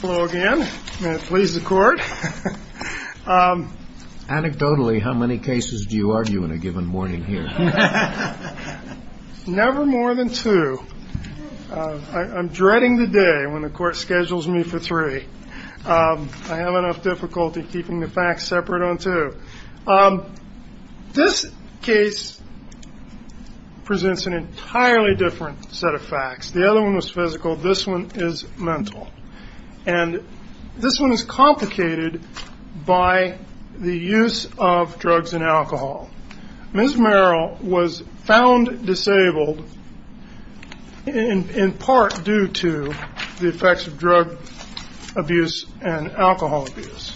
Hello again. May it please the court. Anecdotally, how many cases do you argue in a given morning here? Never more than two. I'm dreading the day when the court schedules me for three. I have enough difficulty keeping the facts separate on two. This case presents an entirely different set of facts. The other one was physical. This one is mental. And this one is complicated by the use of drugs and alcohol. Ms. Merrell was found disabled in part due to the effects of drug abuse and alcohol abuse.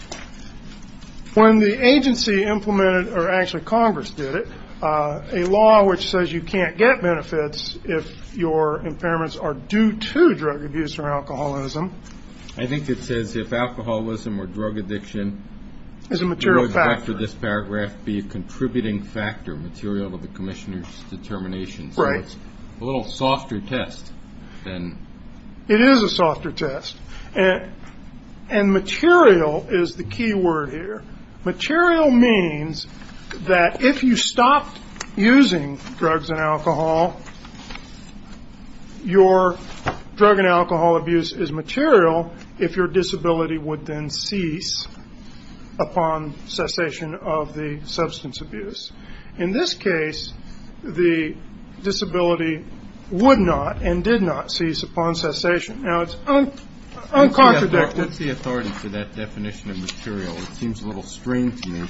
When the agency implemented, or actually Congress did it, a law which says you can't get benefits if your impairments are due to drug abuse or alcoholism. I think it says if alcoholism or drug addiction would, after this paragraph, be a contributing factor, material to the commissioner's determination. Right. So it's a little softer test. It is a softer test. And material is the key word here. Material means that if you stop using drugs and alcohol, your drug and alcohol abuse is material if your disability would then cease upon cessation of the substance abuse. In this case, the disability would not and did not cease upon cessation. Now, it's uncontradicted. What's the authority for that definition of material? It seems a little strange to me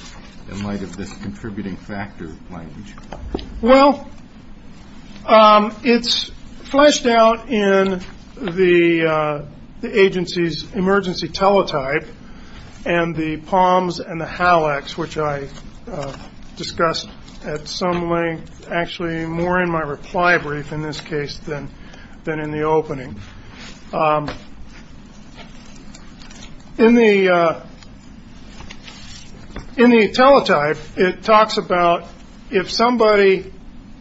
in light of this contributing factor language. Well, it's fleshed out in the agency's emergency teletype and the POMS and the HALACs, which I discussed at some length, actually more in my reply brief in this case than in the opening. In the teletype, it talks about if somebody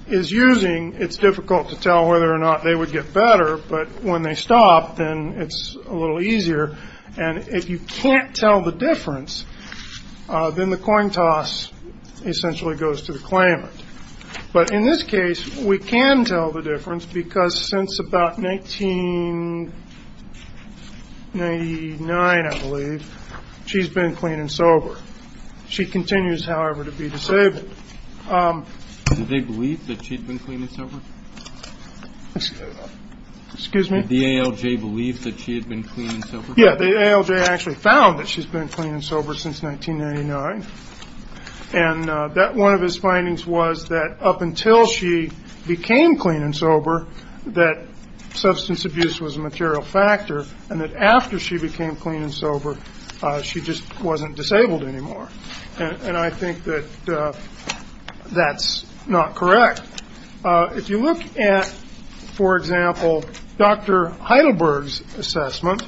is using, it's difficult to tell whether or not they would get better. But when they stop, then it's a little easier. And if you can't tell the difference, then the coin toss essentially goes to the claimant. But in this case, we can tell the difference because since about 1999, I believe, she's been clean and sober. She continues, however, to be disabled. Did they believe that she'd been clean and sober? Excuse me? Did the ALJ believe that she had been clean and sober? Yeah, the ALJ actually found that she's been clean and sober since 1999. And one of his findings was that up until she became clean and sober, that substance abuse was a material factor, and that after she became clean and sober, she just wasn't disabled anymore. And I think that that's not correct. If you look at, for example, Dr. Heidelberg's assessment,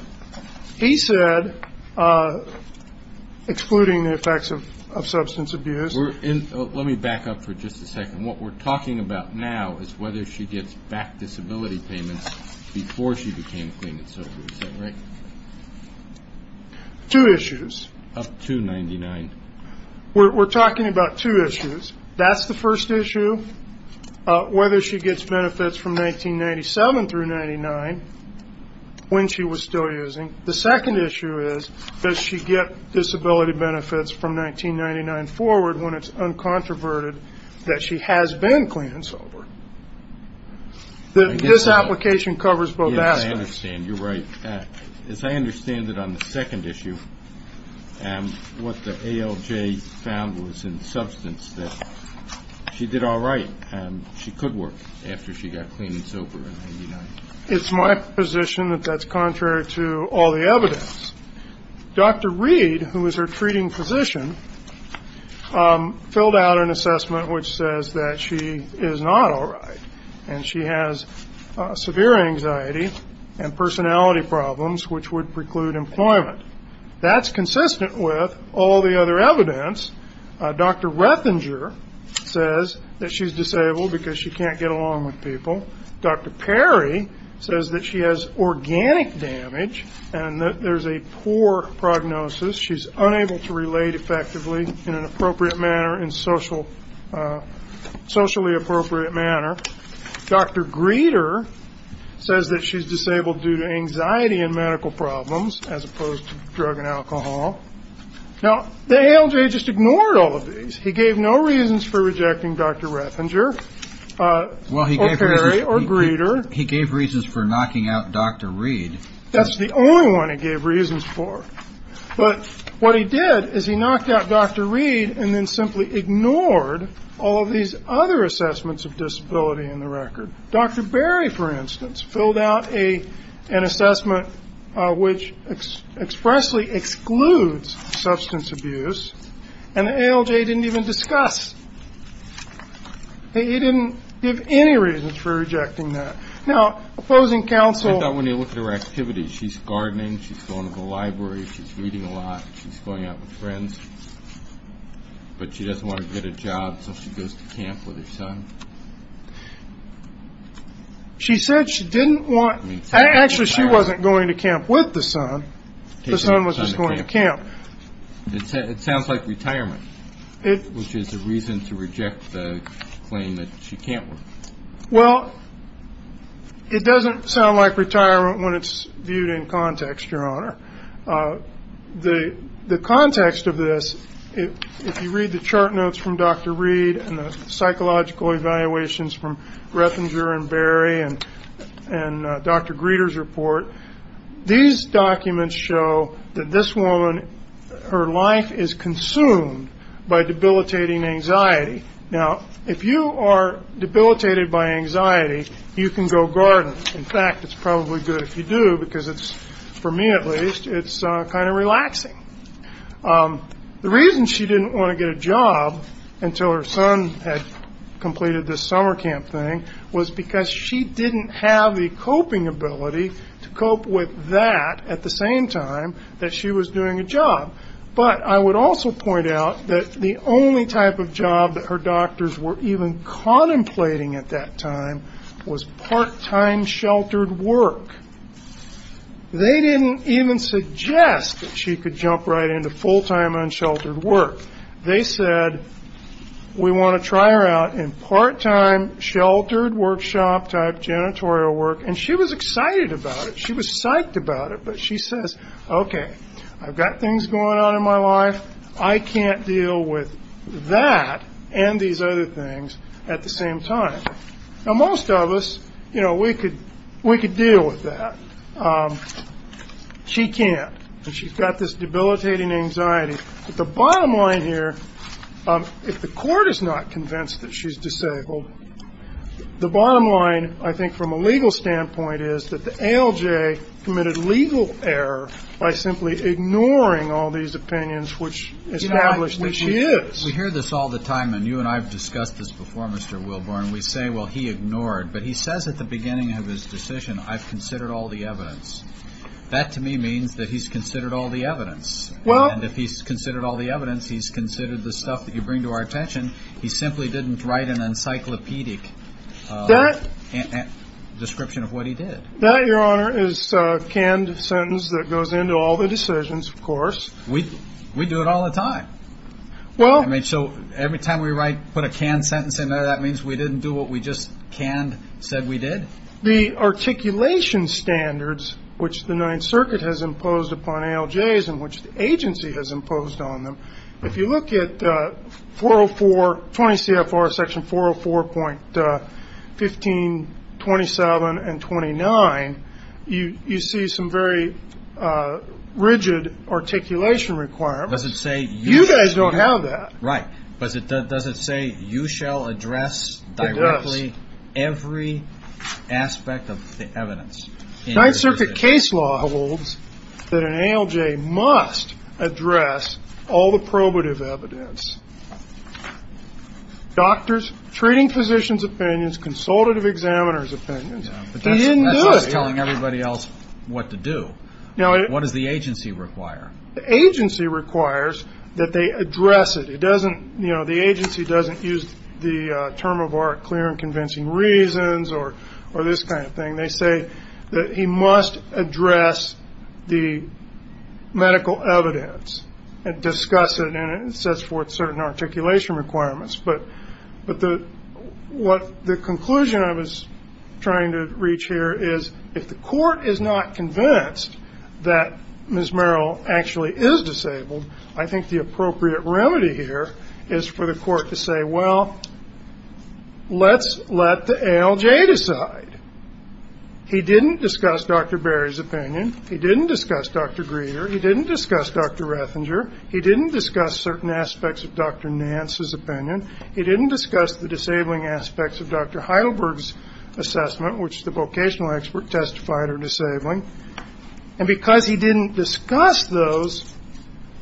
he said, excluding the effects of substance abuse. Let me back up for just a second. What we're talking about now is whether she gets back disability payments before she became clean and sober. Is that right? Two issues. Up to 99. We're talking about two issues. That's the first issue, whether she gets benefits from 1997 through 99 when she was still using. The second issue is, does she get disability benefits from 1999 forward when it's uncontroverted that she has been clean and sober? This application covers both aspects. Yes, I understand. You're right. As I understand it on the second issue, what the ALJ found was in substance that she did all right, and she could work after she got clean and sober in 1999. It's my position that that's contrary to all the evidence. Dr. Reed, who was her treating physician, filled out an assessment which says that she is not all right and she has severe anxiety and personality problems which would preclude employment. That's consistent with all the other evidence. Dr. Rethinger says that she's disabled because she can't get along with people. Dr. Perry says that she has organic damage and that there's a poor prognosis. She's unable to relate effectively in a socially appropriate manner. Dr. Greeter says that she's disabled due to anxiety and medical problems as opposed to drug and alcohol. Now, the ALJ just ignored all of these. He gave no reasons for rejecting Dr. Rethinger or Perry or Greeter. He gave reasons for knocking out Dr. Reed. That's the only one he gave reasons for. But what he did is he knocked out Dr. Reed and then simply ignored all of these other assessments of disability in the record. Dr. Berry, for instance, filled out an assessment which expressly excludes substance abuse, and the ALJ didn't even discuss. He didn't give any reasons for rejecting that. Now, opposing counsel. I thought when you look at her activities, she's gardening, she's going to the library, she's reading a lot, she's going out with friends, but she doesn't want to get a job so she goes to camp with her son. She said she didn't want to. Actually, she wasn't going to camp with the son. The son was just going to camp. It sounds like retirement, which is a reason to reject the claim that she can't work. Well, it doesn't sound like retirement when it's viewed in context, Your Honor. The context of this, if you read the chart notes from Dr. Reed and the psychological evaluations from Reffinger and Berry and Dr. Greeter's report, these documents show that this woman, her life is consumed by debilitating anxiety. Now, if you are debilitated by anxiety, you can go garden. In fact, it's probably good if you do because it's, for me at least, it's kind of relaxing. The reason she didn't want to get a job until her son had completed this summer camp thing was because she didn't have the coping ability to cope with that at the same time that she was doing a job. But I would also point out that the only type of job that her doctors were even contemplating at that time was part-time sheltered work. They didn't even suggest that she could jump right into full-time unsheltered work. They said, we want to try her out in part-time sheltered workshop type janitorial work. And she was excited about it. She was psyched about it. But she says, okay, I've got things going on in my life. I can't deal with that and these other things at the same time. Now, most of us, you know, we could deal with that. She can't. And she's got this debilitating anxiety. But the bottom line here, if the court is not convinced that she's disabled, the bottom line, I think, from a legal standpoint is that the ALJ committed legal error by simply ignoring all these opinions which established that she is. We hear this all the time. And you and I have discussed this before, Mr. Wilborn. We say, well, he ignored. But he says at the beginning of his decision, I've considered all the evidence. That to me means that he's considered all the evidence. And if he's considered all the evidence, he's considered the stuff that you bring to our attention. He simply didn't write an encyclopedic description of what he did. That, Your Honor, is a canned sentence that goes into all the decisions, of course. We do it all the time. So every time we put a canned sentence in there, that means we didn't do what we just canned said we did. The articulation standards which the Ninth Circuit has imposed upon ALJs in which the agency has imposed on them, if you look at 404, 20 CFR Section 404.15, 27, and 29, you see some very rigid articulation requirements. You guys don't have that. Right. But does it say you shall address directly every aspect of the evidence? Ninth Circuit case law holds that an ALJ must address all the probative evidence. Doctors, treating physicians' opinions, consultative examiners' opinions. He didn't do it. That's not telling everybody else what to do. What does the agency require? The agency requires that they address it. It doesn't, you know, the agency doesn't use the term of art clear and convincing reasons or this kind of thing. They say that he must address the medical evidence and discuss it and it sets forth certain articulation requirements. But what the conclusion I was trying to reach here is if the court is not convinced that Ms. Merrill actually is disabled, I think the appropriate remedy here is for the court to say, well, let's let the ALJ decide. He didn't discuss Dr. Berry's opinion. He didn't discuss Dr. Greeter. He didn't discuss Dr. Rethinger. He didn't discuss certain aspects of Dr. Nance's opinion. He didn't discuss the disabling aspects of Dr. Heidelberg's assessment, which the vocational expert testified are disabling. And because he didn't discuss those,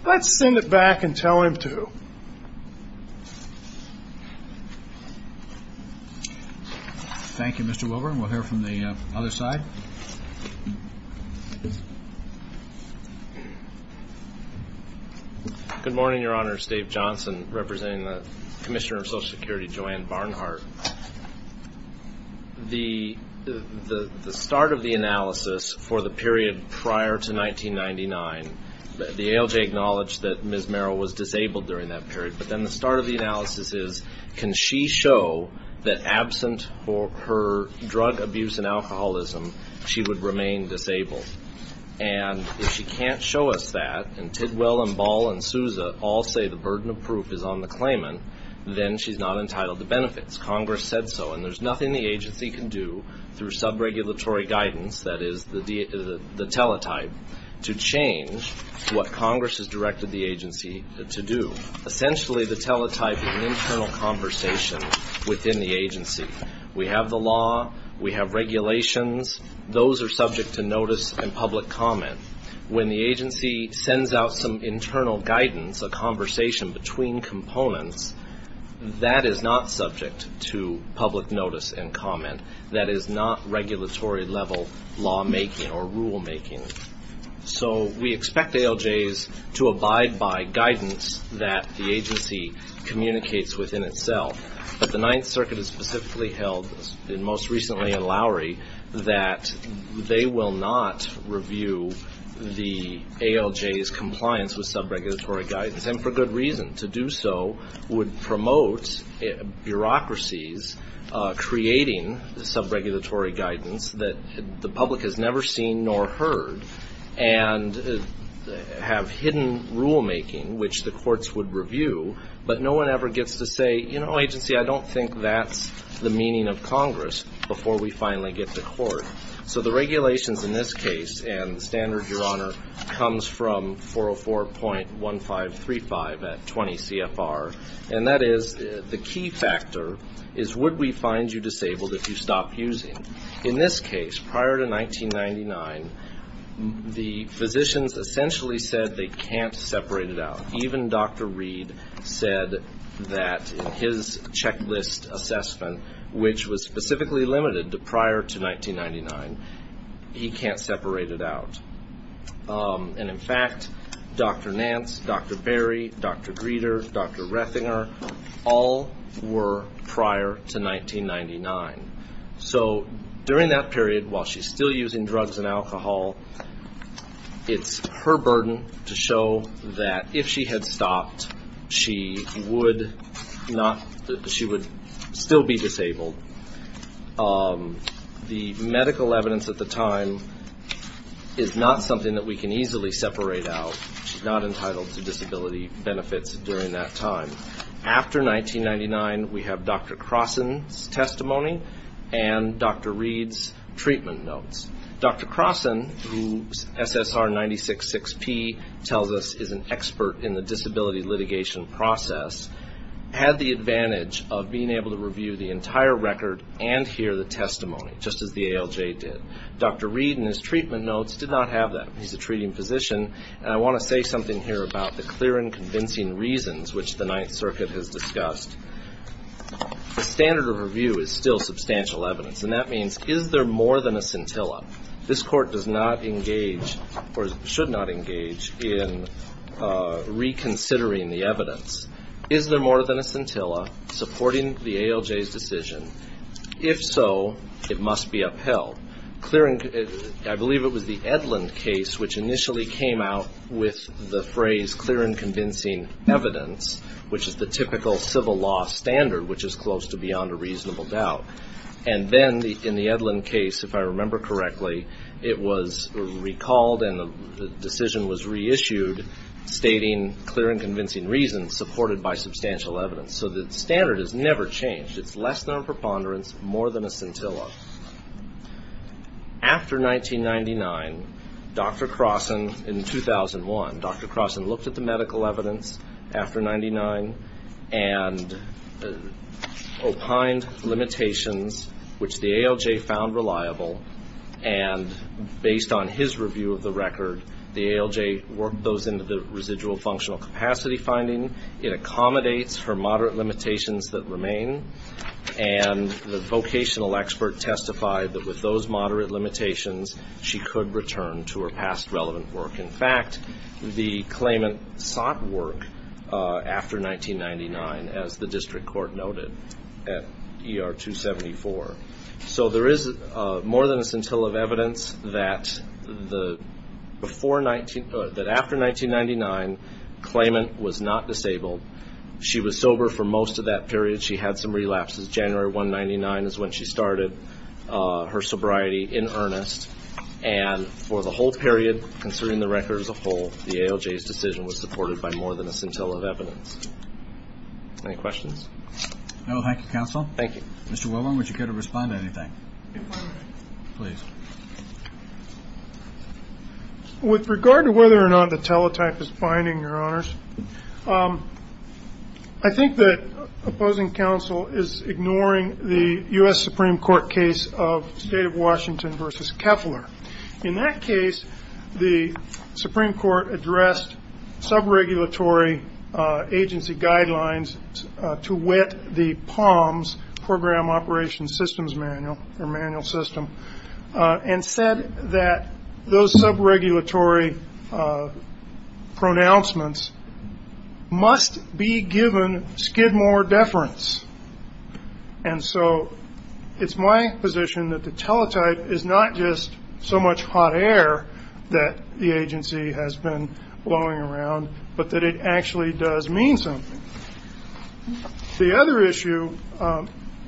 let's send it back and tell him to. Thank you. Thank you, Mr. Wilburn. We'll hear from the other side. Good morning, Your Honor. It's Dave Johnson representing the Commissioner of Social Security, Joanne Barnhart. The start of the analysis for the period prior to 1999, the ALJ acknowledged that Ms. Merrill was disabled during that period. But then the start of the analysis is, can she show that absent her drug abuse and alcoholism, she would remain disabled? And if she can't show us that, and Tidwell and Ball and Souza all say the burden of proof is on the claimant, then she's not entitled to benefits. Congress said so. And there's nothing the agency can do through subregulatory guidance, that is the teletype, to change what Congress has directed the agency to do. Essentially, the teletype is an internal conversation within the agency. We have the law, we have regulations, those are subject to notice and public comment. When the agency sends out some internal guidance, a conversation between components, that is not subject to public notice and comment. That is not regulatory-level lawmaking or rulemaking. So we expect ALJs to abide by guidance that the agency communicates within itself. But the Ninth Circuit has specifically held, and most recently in Lowry, that they will not review the ALJ's compliance with subregulatory guidance, and for good reason. To do so would promote bureaucracies creating subregulatory guidance that the public has never seen nor heard, and have hidden rulemaking which the courts would review. But no one ever gets to say, you know, agency, I don't think that's the meaning of Congress, before we finally get to court. So the regulations in this case, and the standard, Your Honor, comes from 404.1535 at 20 CFR, and that is the key factor is would we find you disabled if you stopped using. In this case, prior to 1999, the physicians essentially said they can't separate it out. Even Dr. Reed said that in his checklist assessment, which was specifically limited to prior to 1999, he can't separate it out. And, in fact, Dr. Nance, Dr. Berry, Dr. Greeter, Dr. Rethinger, all were prior to 1999. So during that period, while she's still using drugs and alcohol, it's her burden to show that if she had stopped, she would still be disabled. The medical evidence at the time is not something that we can easily separate out. She's not entitled to disability benefits during that time. After 1999, we have Dr. Crossen's testimony and Dr. Reed's treatment notes. Dr. Crossen, who SSR 966P tells us is an expert in the disability litigation process, had the advantage of being able to review the entire record and hear the testimony, just as the ALJ did. Dr. Reed in his treatment notes did not have that. He's a treating physician, and I want to say something here about the clear and convincing reasons, which the Ninth Circuit has discussed. The standard of review is still substantial evidence, and that means is there more than a scintilla? This Court does not engage, or should not engage, in reconsidering the evidence. Is there more than a scintilla supporting the ALJ's decision? If so, it must be upheld. I believe it was the Edlund case which initially came out with the phrase clear and convincing evidence, which is the typical civil law standard, which is close to beyond a reasonable doubt. And then, in the Edlund case, if I remember correctly, it was recalled and the decision was reissued stating clear and convincing reasons supported by substantial evidence. So the standard has never changed. It's less than a preponderance, more than a scintilla. After 1999, Dr. Crossan, in 2001, Dr. Crossan looked at the medical evidence after 1999 and opined limitations which the ALJ found reliable, and based on his review of the record, the ALJ worked those into the residual functional capacity finding. It accommodates for moderate limitations that remain, and the vocational expert testified that with those moderate limitations, she could return to her past relevant work. In fact, the claimant sought work after 1999, as the district court noted at ER 274. So there is more than a scintilla of evidence that after 1999, claimant was not disabled. She was sober for most of that period. She had some relapses. January 1999 is when she started her sobriety in earnest. And for the whole period, considering the record as a whole, the ALJ's decision was supported by more than a scintilla of evidence. Any questions? No. Thank you, counsel. Thank you. Mr. Wilburn, would you care to respond to anything? Please. With regard to whether or not the teletype is binding, Your Honors, I think that opposing counsel is ignoring the U.S. Supreme Court case of State of Washington v. Keffler. In that case, the Supreme Court addressed subregulatory agency guidelines to wit the POMS, Program Operations Systems Manual, or manual system, and said that those subregulatory pronouncements must be given skid more deference. And so it's my position that the teletype is not just so much hot air that the agency has been blowing around, but that it actually does mean something. The other issue,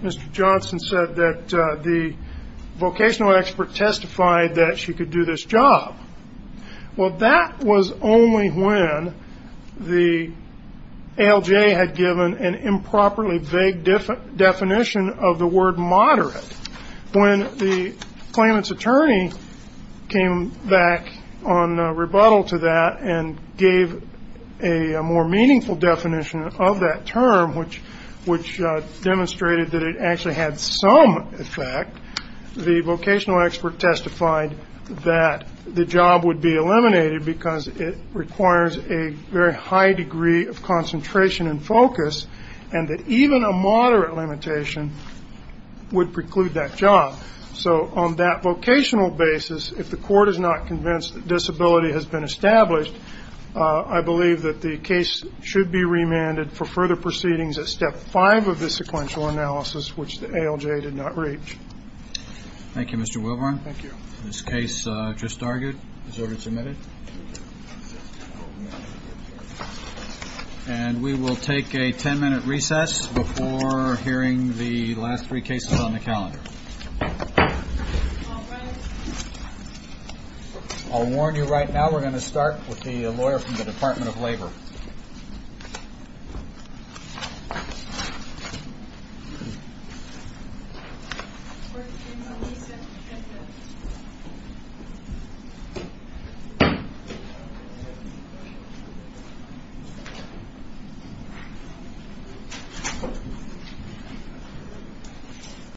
Mr. Johnson said that the vocational expert testified that she could do this job. Well, that was only when the ALJ had given an improperly vague definition of the word moderate. When the claimant's attorney came back on rebuttal to that and gave a more meaningful definition of that term, which demonstrated that it actually had some effect, the vocational expert testified that the job would be eliminated because it requires a very high degree of concentration and focus and that even a moderate limitation would preclude that job. So on that vocational basis, if the court is not convinced that disability has been established, I believe that the case should be remanded for further proceedings at step five of the sequential analysis, which the ALJ did not reach. Thank you, Mr. Wilburn. Thank you. This case just argued. Is order submitted? And we will take a ten-minute recess before hearing the last three cases on the calendar. All right. I'll warn you right now, we're going to start with the lawyer from the Department of Labor. Thank you.